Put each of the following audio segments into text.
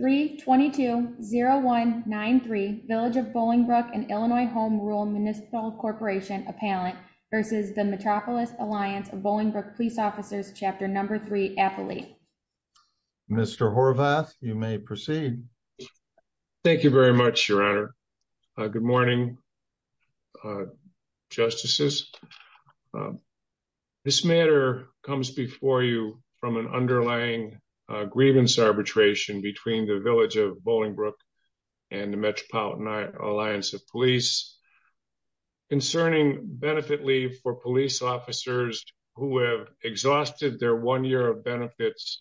322-0193 Village of Bollingbrook and Illinois Home Rule Municipal Corporation Appellant v. The Metropolitan Alliance of Bollingbrook Police Officers Chapter 3 Appellee. Mr. Horvath, you may proceed. Thank you very much, Your Honor. Good morning, Justices. This matter comes before you from an underlying grievance arbitration between the Village of Bollingbrook and the Metropolitan Alliance of Police concerning benefit leave for police officers who have exhausted their one year of benefits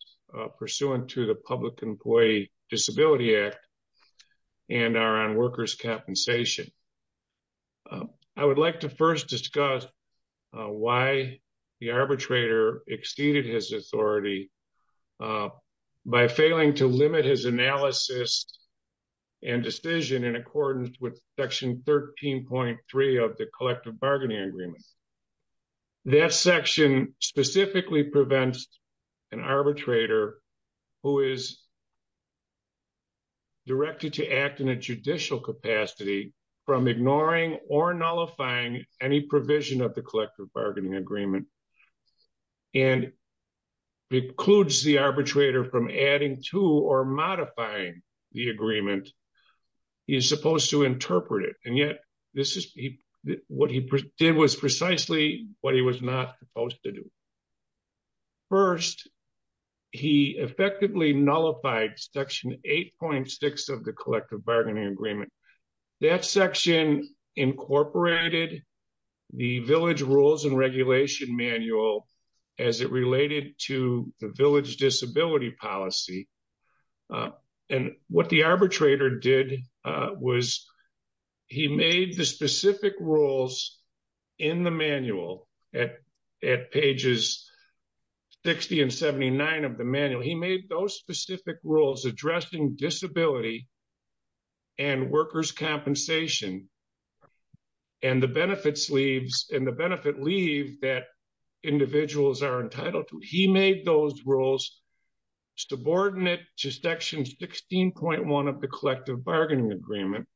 pursuant to the Public Employee Disability Act and are on workers' compensation. I would like to first discuss why the arbitrator exceeded his authority by failing to limit his analysis and decision in accordance with Section 13.3 of the Collective Bargaining Agreement. That section specifically prevents an arbitrator who is directed to act in a judicial capacity from ignoring or nullifying any provision of the Collective Bargaining Agreement and precludes the arbitrator from adding to or modifying the agreement he is supposed to interpret it and yet this is what he did was precisely what he was not supposed to do. First, he effectively nullified Section 8.6 of the Collective Bargaining Agreement. That section incorporated the Village Rules and Regulation Manual as it related to the Village Disability Policy and what the arbitrator did was he made the specific rules in the manual at pages 60 and 79 of the manual. He made those specific rules addressing disability and workers' compensation and the benefit leaves and the benefit leave that individuals are entitled to. He made those rules subordinate to Section 16.1 of the Collective Bargaining Agreement,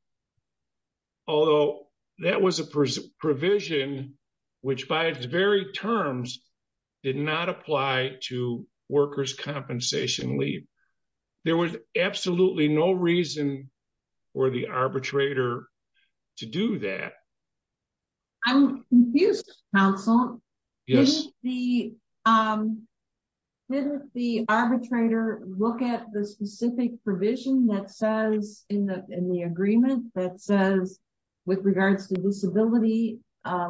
although that was a provision which by its very terms did not apply to workers' compensation leave. There was absolutely no reason for the arbitrator to do that. I'm confused, counsel. Yes. Didn't the arbitrator look at the specific provision in the agreement that says with regards to disability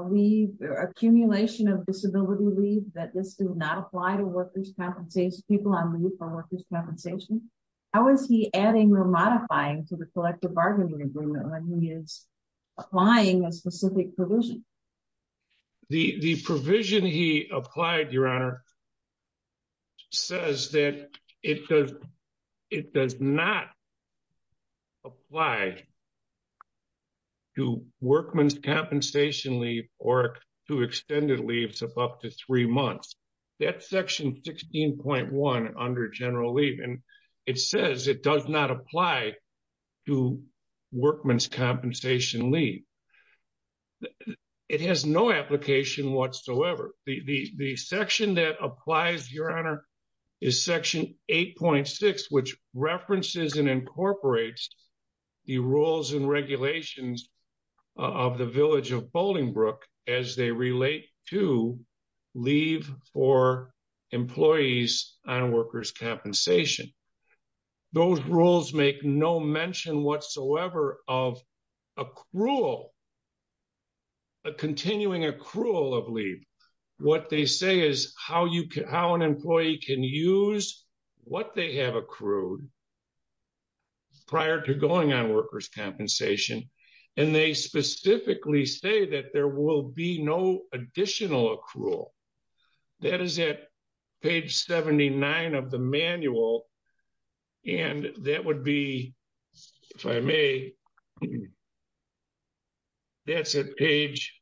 leave or accumulation of disability leave that this does not apply to workers' compensation, people on leave for workers' compensation? How is he adding or modifying to the Collective Bargaining Agreement when he is applying a specific provision? The provision he applied, Your Honor, says that it does not apply to workman's compensation leave or to extended leaves of up to three months. That's Section 16.1 under general leave and it says it does not apply to workman's compensation leave. It has no application whatsoever. The section that applies, Your Honor, is Section 8.6 which references and incorporates the rules and regulations of the Village of Bolingbroke as they relate to leave for employees on workers' compensation. Those rules make no mention whatsoever of continuing accrual of leave. What they say is how an employee can use what they have accrued prior to going on workers' compensation and they specifically say that there will be no additional accrual. That is at page 79 of the manual and that would be, if I may, that's at page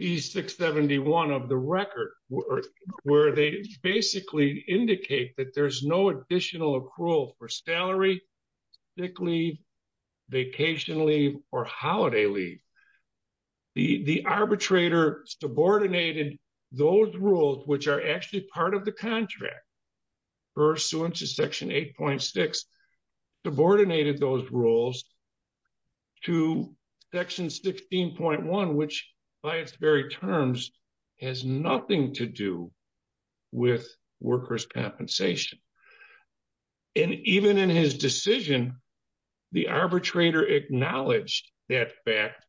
671 of the record where they basically indicate that there's no additional accrual for salary, sick leave, vacation leave, or holiday leave. The arbitrator subordinated those rules which are actually part of the contract, pursuant to Section 8.6, subordinated those rules to Section 16.1 which by its very terms has nothing to do with workers' compensation. And even in his decision, the arbitrator acknowledged that fact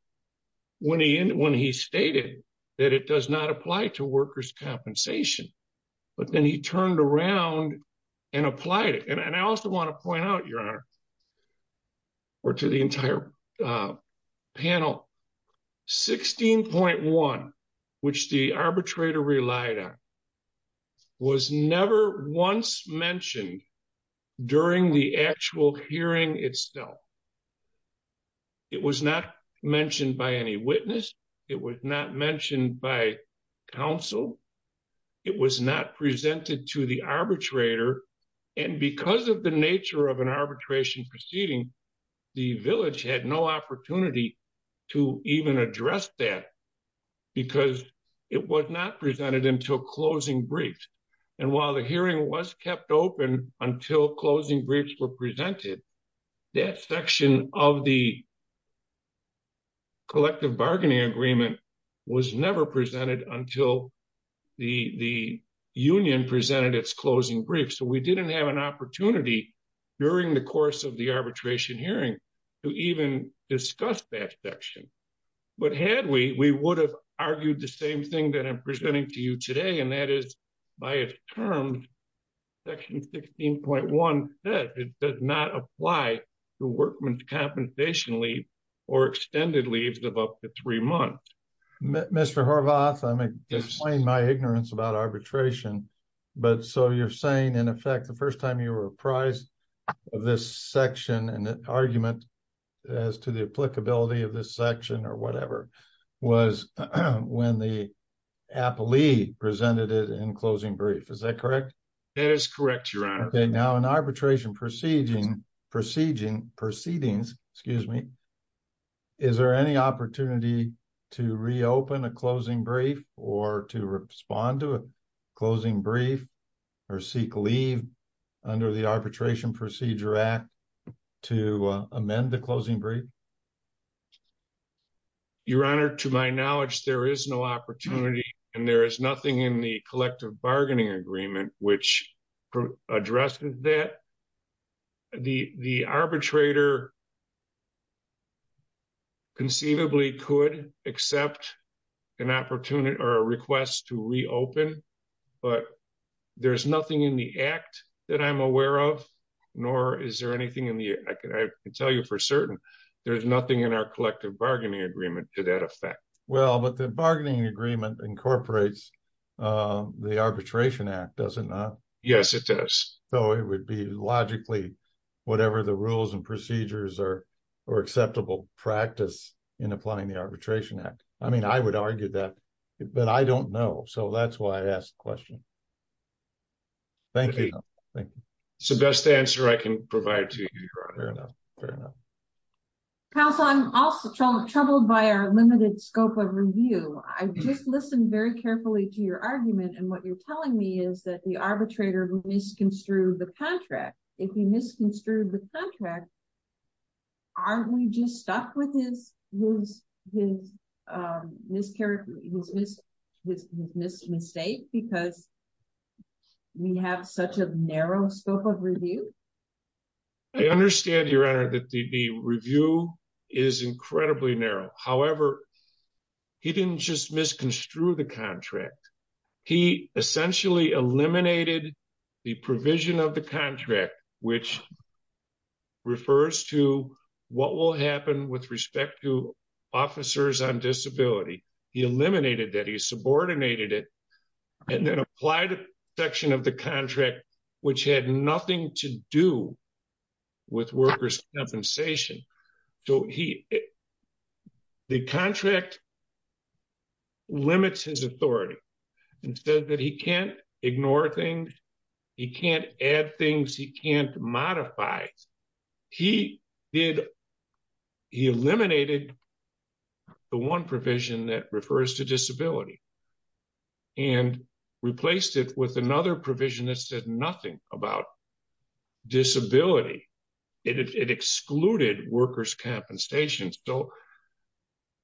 when he stated that it does not apply to workers' compensation. But then he turned around and applied it. And I also want to point out, Your Honor, or to the entire panel, 16.1 which the arbitrator relied on was never once mentioned during the actual hearing itself. It was not mentioned by any witness. It was not mentioned by counsel. It was not presented to the arbitrator. And because of the nature of an arbitration proceeding, the village had no briefs. And while the hearing was kept open until closing briefs were presented, that section of the collective bargaining agreement was never presented until the union presented its closing brief. So we didn't have an opportunity during the course of the arbitration hearing to even discuss that section. But had we, we would have argued the same thing that I'm presenting to you today, and that is, by its terms, Section 16.1 says it does not apply to workmen's compensation leave or extended leaves of up to three months. Mr. Horvath, I may explain my ignorance about arbitration, but so you're saying in effect the first time you were apprised of this section and argument as to the applicability of this section or whatever was when the appellee presented it in closing brief, is that correct? That is correct, your honor. Okay, now in arbitration proceedings, is there any opportunity to reopen a closing brief or to amend the closing brief? Your honor, to my knowledge, there is no opportunity and there is nothing in the collective bargaining agreement which addresses that. The arbitrator conceivably could accept an opportunity or a request to reopen, but there's nothing in the for certain. There's nothing in our collective bargaining agreement to that effect. Well, but the bargaining agreement incorporates the Arbitration Act, does it not? Yes, it does. So, it would be logically whatever the rules and procedures or acceptable practice in applying the Arbitration Act. I mean, I would argue that, but I don't know, so that's why I asked the question. It's the best answer I can provide to you, your honor. Fair enough. Counsel, I'm also troubled by our limited scope of review. I just listened very carefully to your argument and what you're telling me is that the arbitrator misconstrued the contract. If he misconstrued the contract, aren't we just stuck with his miscarriage, his mistake because we have such a narrow scope of review? I understand, your honor, that the review is incredibly narrow. However, he didn't just misconstrue the contract. He essentially eliminated the provision of the contract, which refers to what will happen with respect to disability. He eliminated that. He subordinated it and then applied a section of the contract, which had nothing to do with workers' compensation. So, the contract limits his authority and said that he can't ignore things. He can't add things. He can't modify. He eliminated the one provision that refers to disability and replaced it with another provision that said nothing about disability. It excluded workers' compensation. So,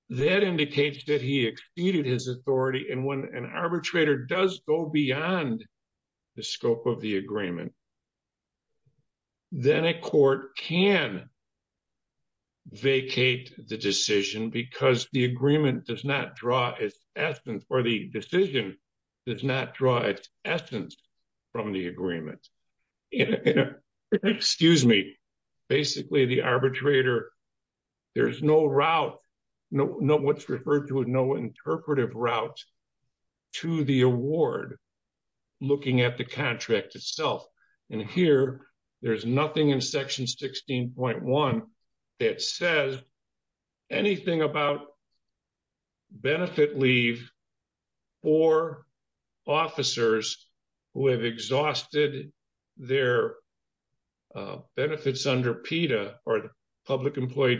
that indicates that he exceeded his authority and when an arbitrator does go beyond the scope of the agreement, then a court can vacate the decision because the agreement does not draw its essence or the decision does not draw its essence from the agreement. Excuse me. Basically, the arbitrator, there's no route, what's referred to as no interpretive route to the award looking at the contract itself. Here, there's nothing in section 16.1 that says anything about benefit leave for officers who have exhausted their benefits under PETA or the Public Employee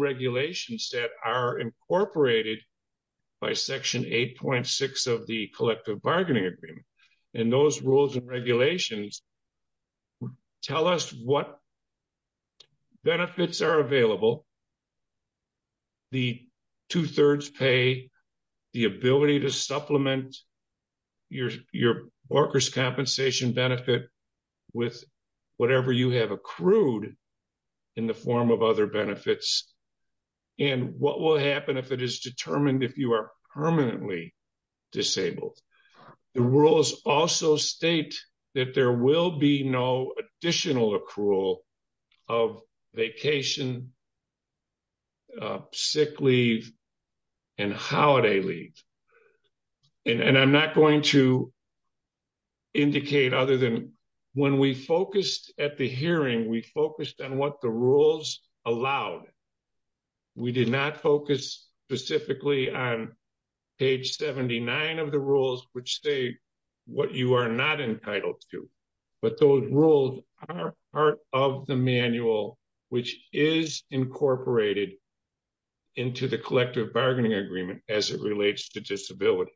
Regulations that are incorporated by section 8.6 of the Collective Bargaining Agreement. And those rules and regulations tell us what benefits are available, the two-thirds pay, the ability to supplement your workers' compensation benefit with whatever you have accrued in the form of other benefits, and what will happen if it is determined if you are permanently disabled. The rules also state that there will be no additional accrual of vacation, sick leave, and holiday leave. And I'm not going to when we focused at the hearing, we focused on what the rules allowed. We did not focus specifically on page 79 of the rules, which say what you are not entitled to. But those rules are part of the manual, which is incorporated into the Collective Bargaining Agreement as it relates to disability.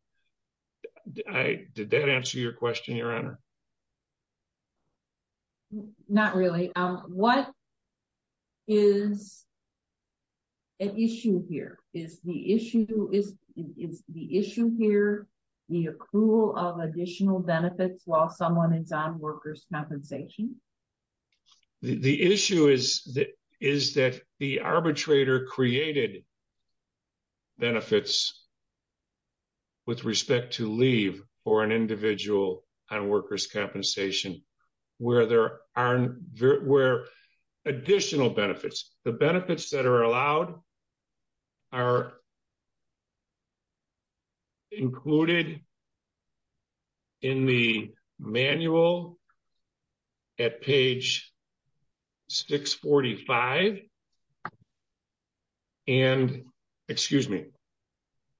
Did that answer your question, Your Honor? Not really. What is an issue here? Is the issue here the accrual of additional benefits while someone is on workers' compensation? The issue is that the arbitrator created benefits with respect to leave for an individual on workers' compensation where there are additional benefits. The benefits that are allowed are included in the manual at page 645 and, excuse me,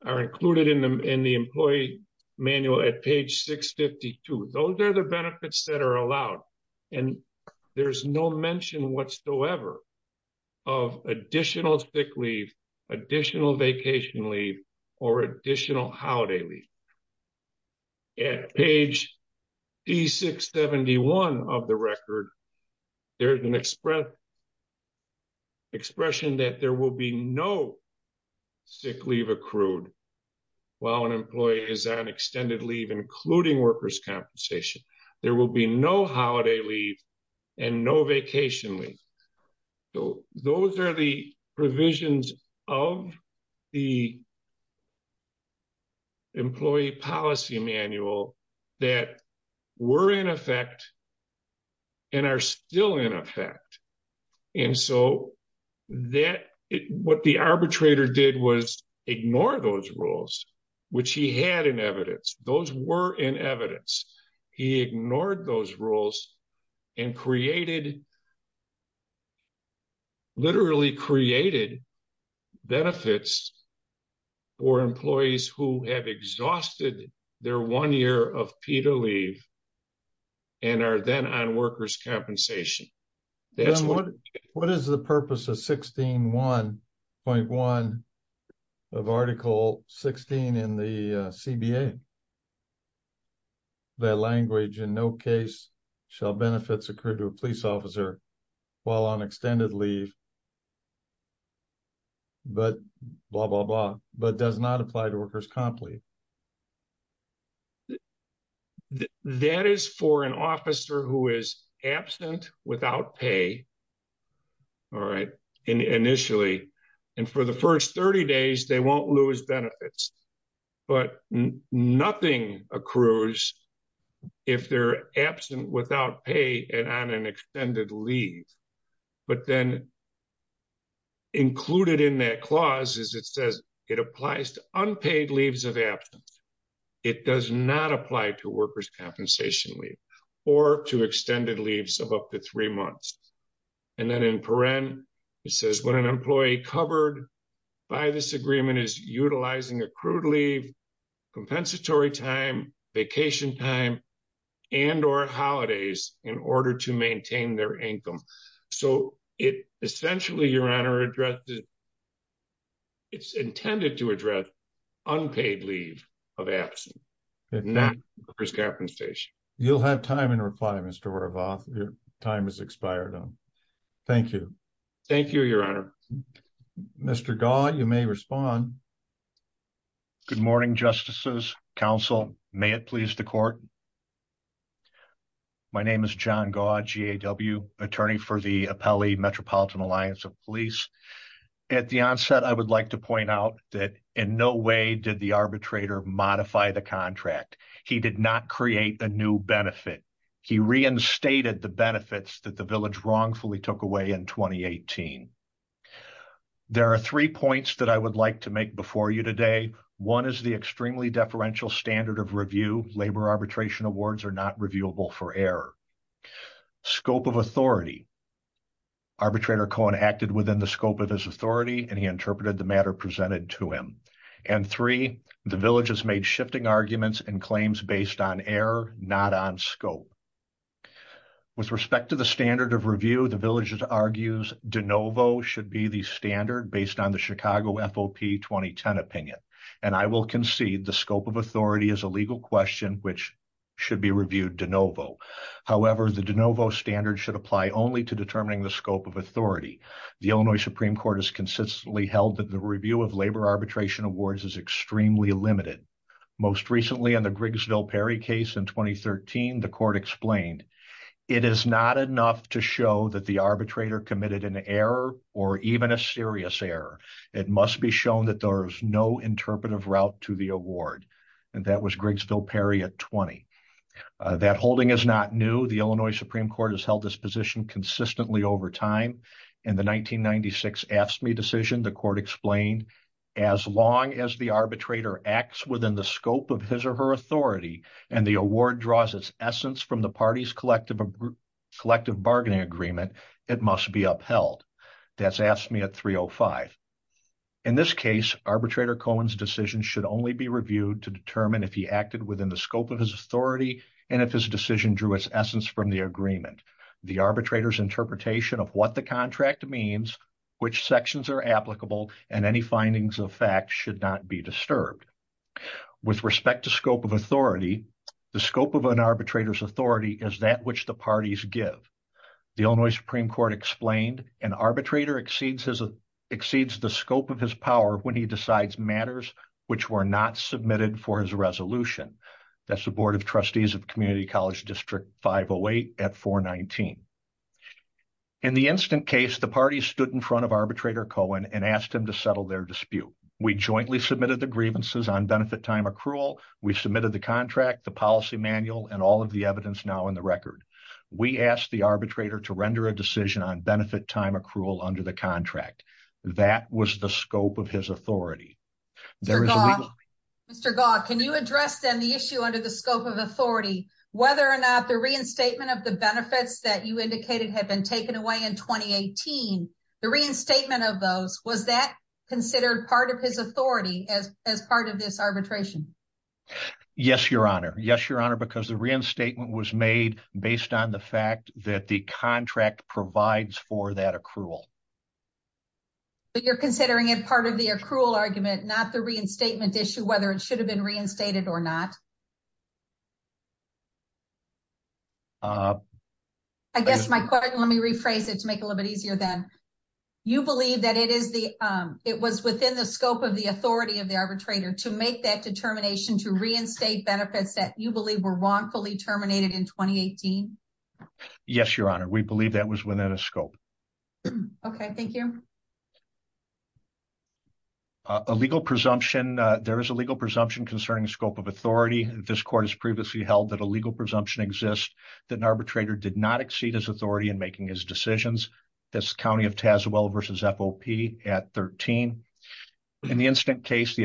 are included in the employee manual at page 652. Those are the benefits that are allowed. And there's no mention whatsoever of additional sick leave, additional vacation leave, or additional holiday leave. At page 671 of the record, there is an expression that there will be no sick leave accrued while an employee is on extended leave, including workers' compensation. There will be no holiday leave and no vacation leave. Those are the provisions of the employee policy manual that were in effect and are still in effect. What the arbitrator did was ignore those rules, which he had in evidence. Those were in evidence. He ignored those rules and literally created benefits for employees who have exhausted their one year of PETA leave and are then on workers' compensation. What is the purpose of 16.1 of Article 16 in the CBA? The language, in no case shall benefits accrue to a police officer while on extended leave, but blah, blah, blah, but does not apply to workers' comp leave. That is for an officer who is absent without pay initially. And for the first 30 days, they will not lose benefits. But nothing accrues if they are absent without pay and on an extended leave. But then included in that clause is it says it applies to unpaid leaves of absence. It does not apply to workers' compensation leave or to extended leaves of up to three months. And then in paren, it says when an employee covered by this agreement is utilizing accrued leave, compensatory time, vacation time, and or holidays in order to maintain their income. Essentially, your honor, it is intended to address unpaid leave of absence, not workers' compensation. Your time has expired. Thank you. Thank you, your honor. Mr. Gaw, you may respond. Good morning, justices, counsel. May it please the court. My name is John Gaw, GAW, attorney for the Appellee Metropolitan Alliance of Police. At the onset, I would like to point out that in no way did the arbitrator modify the contract. He did not create a new benefit. He reinstated the benefits that the village wrongfully took away in 2018. There are three points that I would like to make before you today. One is the extremely deferential standard of review. Labor arbitration awards are not reviewable for error. Scope of authority. Arbitrator Cohen acted within the scope of his authority, and he interpreted the matter presented to him. And three, the village has shifted arguments and claims based on error, not on scope. With respect to the standard of review, the village argues de novo should be the standard based on the Chicago FOP 2010 opinion. And I will concede the scope of authority is a legal question which should be reviewed de novo. However, the de novo standard should apply only to determining the scope of authority. The Illinois Supreme Court has consistently held that the review of labor arbitration awards is extremely limited. Most recently, on the Grigsville Perry case in 2013, the court explained, it is not enough to show that the arbitrator committed an error or even a serious error. It must be shown that there is no interpretive route to the award. And that was Grigsville Perry at 20. That holding is not new. The Illinois Supreme Court has held this position consistently over time. In the 1996 AFSCME decision, the court explained, as long as the arbitrator acts within the scope of his or her authority, and the award draws its essence from the party's collective collective bargaining agreement, it must be upheld. That's AFSCME at 305. In this case, arbitrator Cohen's decision should only be reviewed to determine if he acted within the scope of his authority and if his decision drew its essence from the agreement. The arbitrator's interpretation of what the contract means, which sections are applicable, and any findings of fact should not be disturbed. With respect to scope of authority, the scope of an arbitrator's authority is that which the parties give. The Illinois Supreme Court explained, an arbitrator exceeds the scope of his power when he decides matters which were not submitted for his resolution. That's the Board of Trustees of Community College District 508 at 419. In the instant case, the party stood in front of arbitrator Cohen and asked him to settle their dispute. We jointly submitted the grievances on benefit time accrual. We submitted the contract, the policy manual, and all of the evidence now in the record. We asked the arbitrator to render a decision on benefit time accrual under the contract. That was the scope of his authority. Mr. Gaugh, can you address then the issue under the scope of authority, whether or not the reinstatement of the benefits that you indicated had been taken away in 2018, the reinstatement of those, was that considered part of his authority as part of this arbitration? Yes, your honor. Yes, your honor, because the reinstatement was made based on the fact that the contract provides for that accrual. But you're considering it part of the accrual argument, not the reinstatement issue, whether it should have been reinstated or not? I guess my question, let me rephrase it to make a little bit easier then. You believe that it is the, it was within the scope of the authority of the arbitrator to make that determination to reinstate benefits that you believe were wrongfully terminated in 2018? Yes, your honor, we believe that was within a scope. Okay, thank you. A legal presumption, there is a legal presumption concerning scope of authority. This court has previously held that a legal presumption exists that an arbitrator did not exceed his authority in making his decisions. That's County of Tazewell versus FOP at 13. In the incident case, the presumption,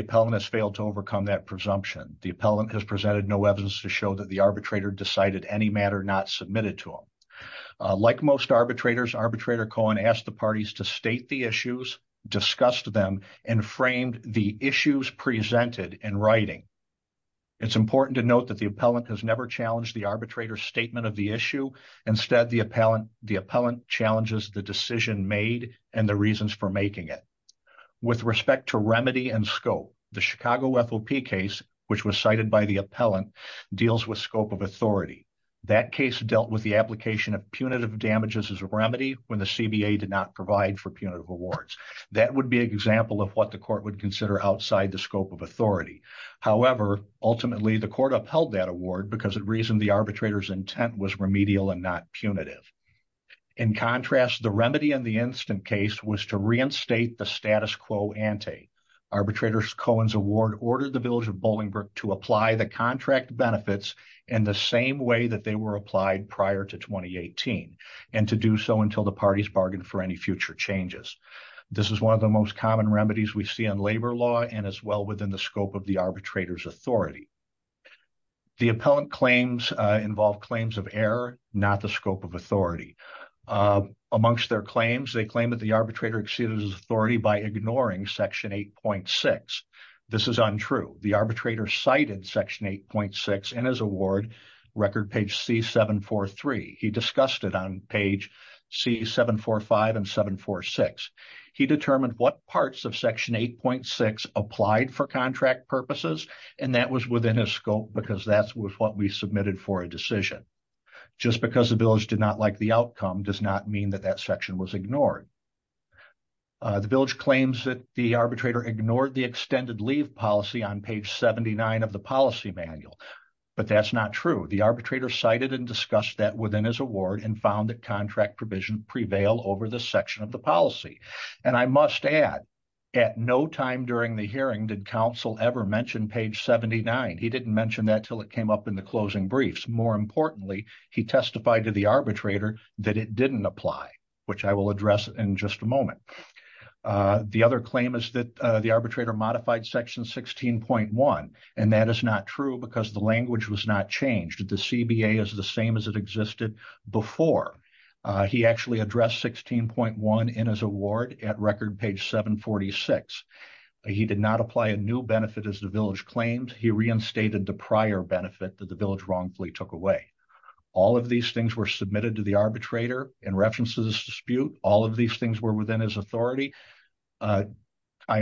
the appellant has presented no evidence to show that the arbitrator decided any matter not submitted to him. Like most arbitrators, arbitrator Cohen asked the parties to state the issues, discussed them, and framed the issues presented in writing. It's important to note that the appellant has never challenged the arbitrator's statement of the issue. Instead, the appellant challenges the decision made and the reasons for making it. With respect to remedy and scope, the Chicago FOP case, which was cited by the appellant, deals with scope of authority. That case dealt with the application of punitive damages as a remedy when the CBA did not provide for punitive awards. That would be an example of what the court would consider outside the scope of authority. However, ultimately, the court upheld that award because it reasoned the arbitrator's intent was remedial and not punitive. In contrast, the remedy in the case of the Chicago FOP case, which was cited by the appellant, deals with scope of authority. Arbitrators Cohen's award ordered the village of Bolingbrook to apply the contract benefits in the same way that they were applied prior to 2018 and to do so until the parties bargained for any future changes. This is one of the most common remedies we see in labor law and as well within the scope of the arbitrator's authority. The appellant claims involve claims of error, not the scope of authority. Amongst their claims, they claim that the arbitrator exceeded his ignoring Section 8.6. This is untrue. The arbitrator cited Section 8.6 in his award, record page C743. He discussed it on page C745 and 746. He determined what parts of Section 8.6 applied for contract purposes, and that was within his scope because that's what we submitted for a decision. Just because the village did not like the outcome does not mean that that section was approved. The village claims that the arbitrator ignored the extended leave policy on page 79 of the policy manual, but that's not true. The arbitrator cited and discussed that within his award and found that contract provision prevail over the section of the policy. And I must add, at no time during the hearing did counsel ever mention page 79. He didn't mention that until it came up in the closing briefs. More importantly, he testified to the other claim is that the arbitrator modified Section 16.1, and that is not true because the language was not changed. The CBA is the same as it existed before. He actually addressed 16.1 in his award at record page 746. He did not apply a new benefit as the village claimed. He reinstated the prior benefit that the village wrongfully took away. All of these things were submitted to the arbitrator in reference to this dispute. All of these things were within his authority. I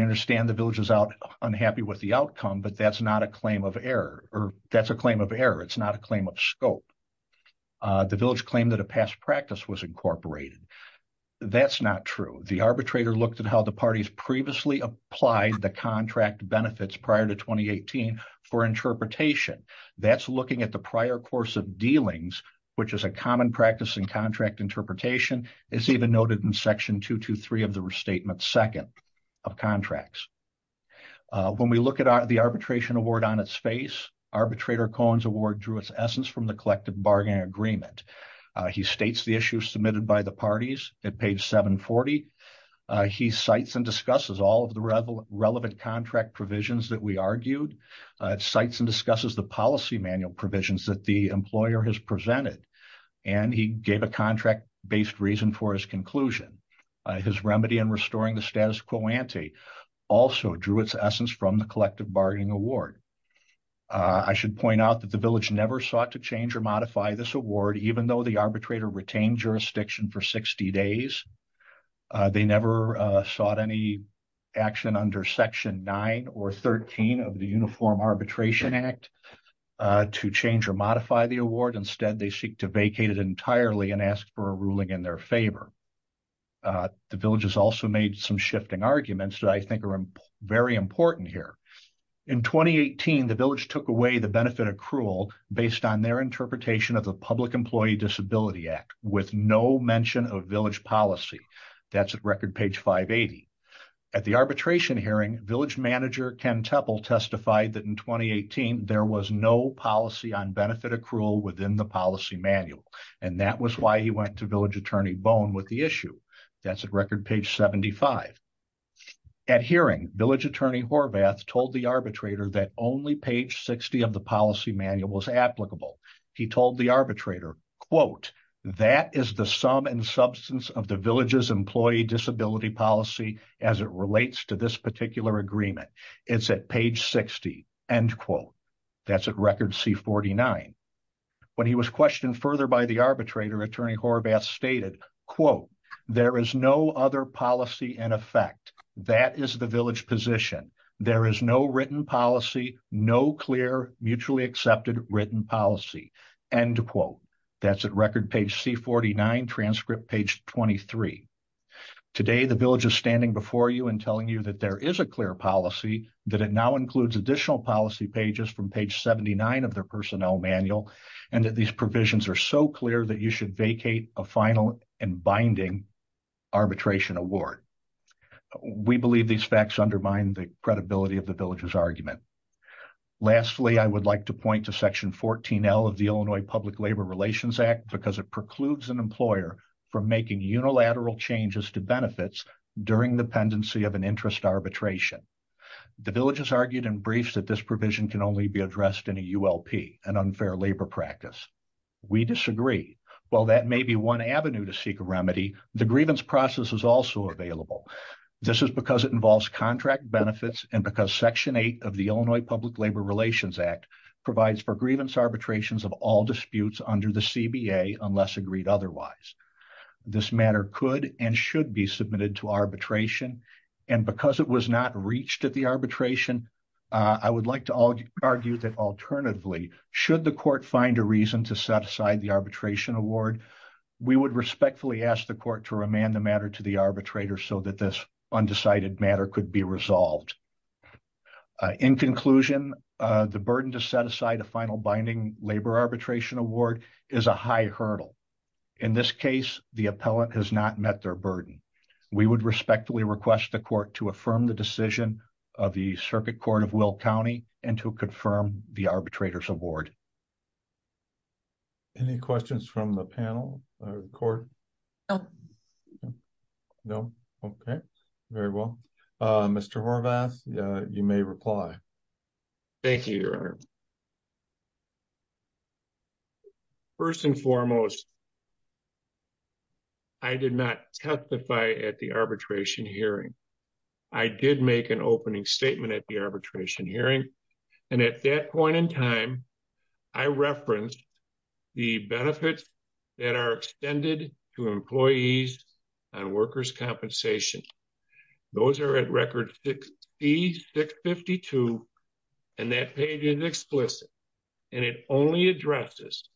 understand the village is out unhappy with the outcome, but that's not a claim of error, or that's a claim of error. It's not a claim of scope. The village claimed that a past practice was incorporated. That's not true. The arbitrator looked at how the parties previously applied the contract benefits prior to 2018 for interpretation. That's looking at the prior course of dealings, which is a common practice in contract interpretation. It's even noted in Section 223 of the restatement second of contracts. When we look at the arbitration award on its face, arbitrator Cohen's award drew its essence from the collective bargaining agreement. He states the issues submitted by the parties at page 740. He cites and discusses all of the relevant contract provisions that we argued. It cites and discusses the policy manual provisions that the employer has presented, and he gave a contract-based reason for his conclusion. His remedy in restoring the status quo ante also drew its essence from the collective bargaining award. I should point out that the village never sought to change or modify this award, even though the arbitrator retained jurisdiction for 60 days. They never sought any action under Section 9 or 13 of the Uniform Arbitration Act to change or modify the award. Instead, they seek to vacate it entirely and ask for a ruling in their favor. The village has also made some shifting arguments that I think are very important here. In 2018, the village took away the benefit accrual based on their interpretation of the Public Employee Disability Act with no mention of village policy. That's at record page 580. At the arbitration hearing, village manager Ken Teppel testified that in 2018 there was no policy on benefit accrual within the policy manual, and that was why he went to village attorney Bone with the issue. That's at record page 75. At hearing, village attorney Horvath told the arbitrator that only page 60 of the policy manual was applicable. He told the arbitrator, quote, that is the sum and agreement. It's at page 60, end quote. That's at record C49. When he was questioned further by the arbitrator, attorney Horvath stated, quote, there is no other policy in effect. That is the village position. There is no written policy, no clear mutually accepted written policy, end quote. That's at record page C49, transcript page 23. Today, the village is standing before you and is a clear policy that it now includes additional policy pages from page 79 of their personnel manual, and that these provisions are so clear that you should vacate a final and binding arbitration award. We believe these facts undermine the credibility of the village's argument. Lastly, I would like to point to section 14L of the Illinois Public Labor Relations Act because it precludes an employer from making unilateral changes to benefits during the pendency of an arbitration. The village has argued in briefs that this provision can only be addressed in a ULP, an unfair labor practice. We disagree. While that may be one avenue to seek a remedy, the grievance process is also available. This is because it involves contract benefits and because section 8 of the Illinois Public Labor Relations Act provides for grievance arbitrations of all disputes under the CBA unless agreed otherwise. This matter could and should be resolved. In conclusion, the burden to set aside a final binding labor arbitration award is a high burden. I respectfully request the court to affirm the decision of the Circuit Court of Will County and to confirm the arbitrator's award. Any questions from the panel or the court? No. No. Okay. Very well. Mr. Horvath, you may reply. Thank you, Your Honor. First and foremost, I did not testify at the arbitration hearing. I did make an opening statement at the arbitration hearing, and at that point in time, I referenced the benefits that are extended to employees on workers' compensation. Those are at record 6652, and that page is explicit, and it only addresses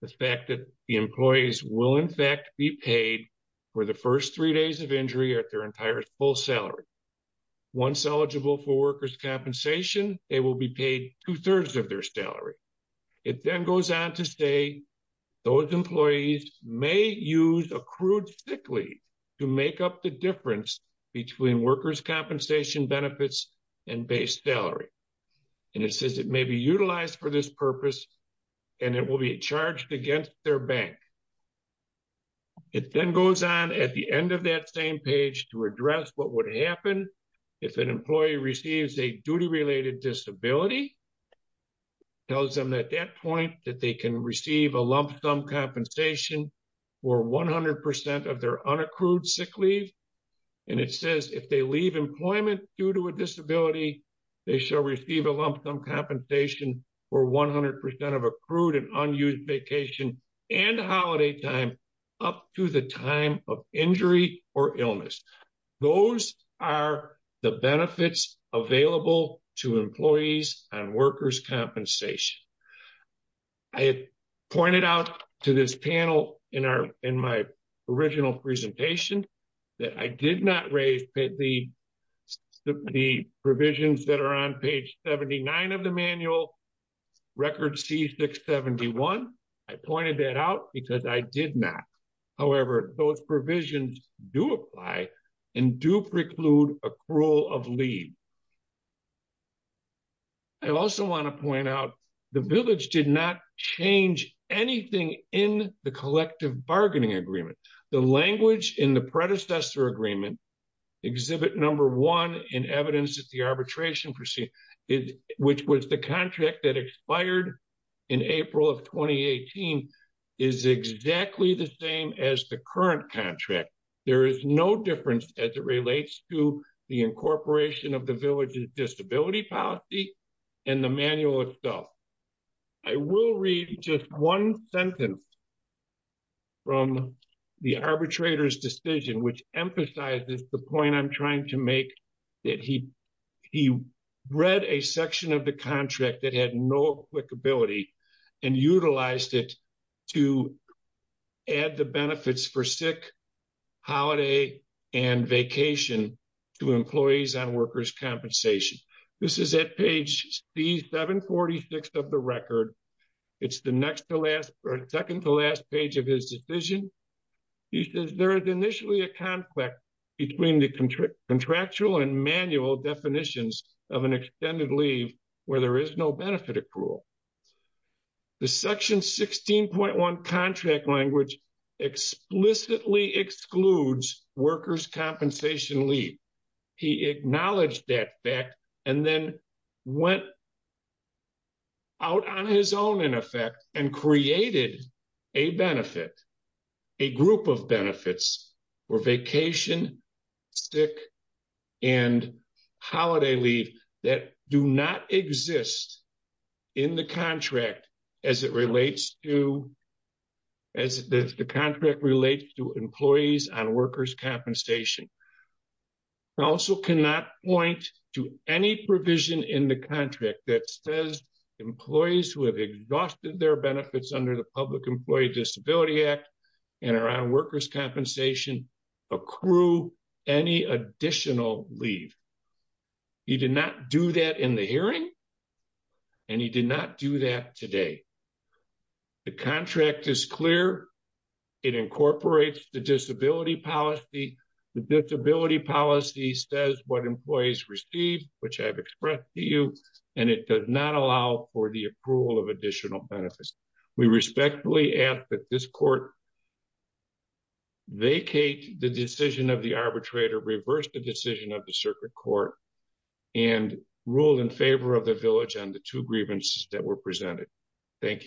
the fact that the employees will, in fact, be paid for the first three days of injury at their entire full salary. Once eligible for workers' compensation, they will be paid two-thirds of their salary. It then goes on to say those employees may use accrued sick leave to make up the difference between workers' compensation benefits and base salary, and it says it may be utilized for this purpose and it will be charged against their bank. It then goes on at the end of that same page to address what would happen if an employee receives a duty-related disability. It tells them at that point that they can receive a lump-sum compensation for 100 percent of their unaccrued sick leave, and it says if they leave employment due to a disability, they shall receive a lump-sum compensation for 100 percent of accrued and unused vacation and holiday time up to the time of injury or illness. Those are the benefits available to employees on workers' compensation. I pointed out to this panel in our original presentation that I did not raise the provisions that are on page 79 of the manual, record C671. I pointed that out because I did not. However, those provisions do apply and do preclude accrual of leave. I also want to point out the village did not change anything in the bargaining agreement. The language in the predecessor agreement, exhibit number one in evidence of the arbitration, which was the contract that expired in April of 2018, is exactly the same as the current contract. There is no difference as it relates to the incorporation of the village's disability policy and the manual itself. I will read just one sentence from the arbitrator's decision, which emphasizes the point I am trying to make. He read a section of the contract that had no applicability and utilized it to add the benefits for sick, holiday, and vacation to employees on workers' compensation. This is at page C746 of record. It is the second to last page of his decision. He says there is initially a conflict between the contractual and manual definitions of an extended leave where there is no benefit accrual. The section 16.1 contract language explicitly excludes workers' compensation leave. He wrote on his own and created a benefit, a group of benefits for vacation, sick, and holiday leave that do not exist in the contract as it relates to employees on workers' compensation. I also cannot point to any provision in the contract that says employees who have exhausted their benefits under the Public Employee Disability Act and are on workers' compensation accrue any additional leave. He did not do that in the hearing, and he did not do that today. The contract is clear. It incorporates the disability policy. The disability policy says what employees receive, which I have expressed to you, and it does not allow for the approval of additional benefits. We respectfully ask that this court vacate the decision of the arbitrator, reverse the decision of the circuit court, and rule in favor of the village on the two grievances that were presented. Thank you.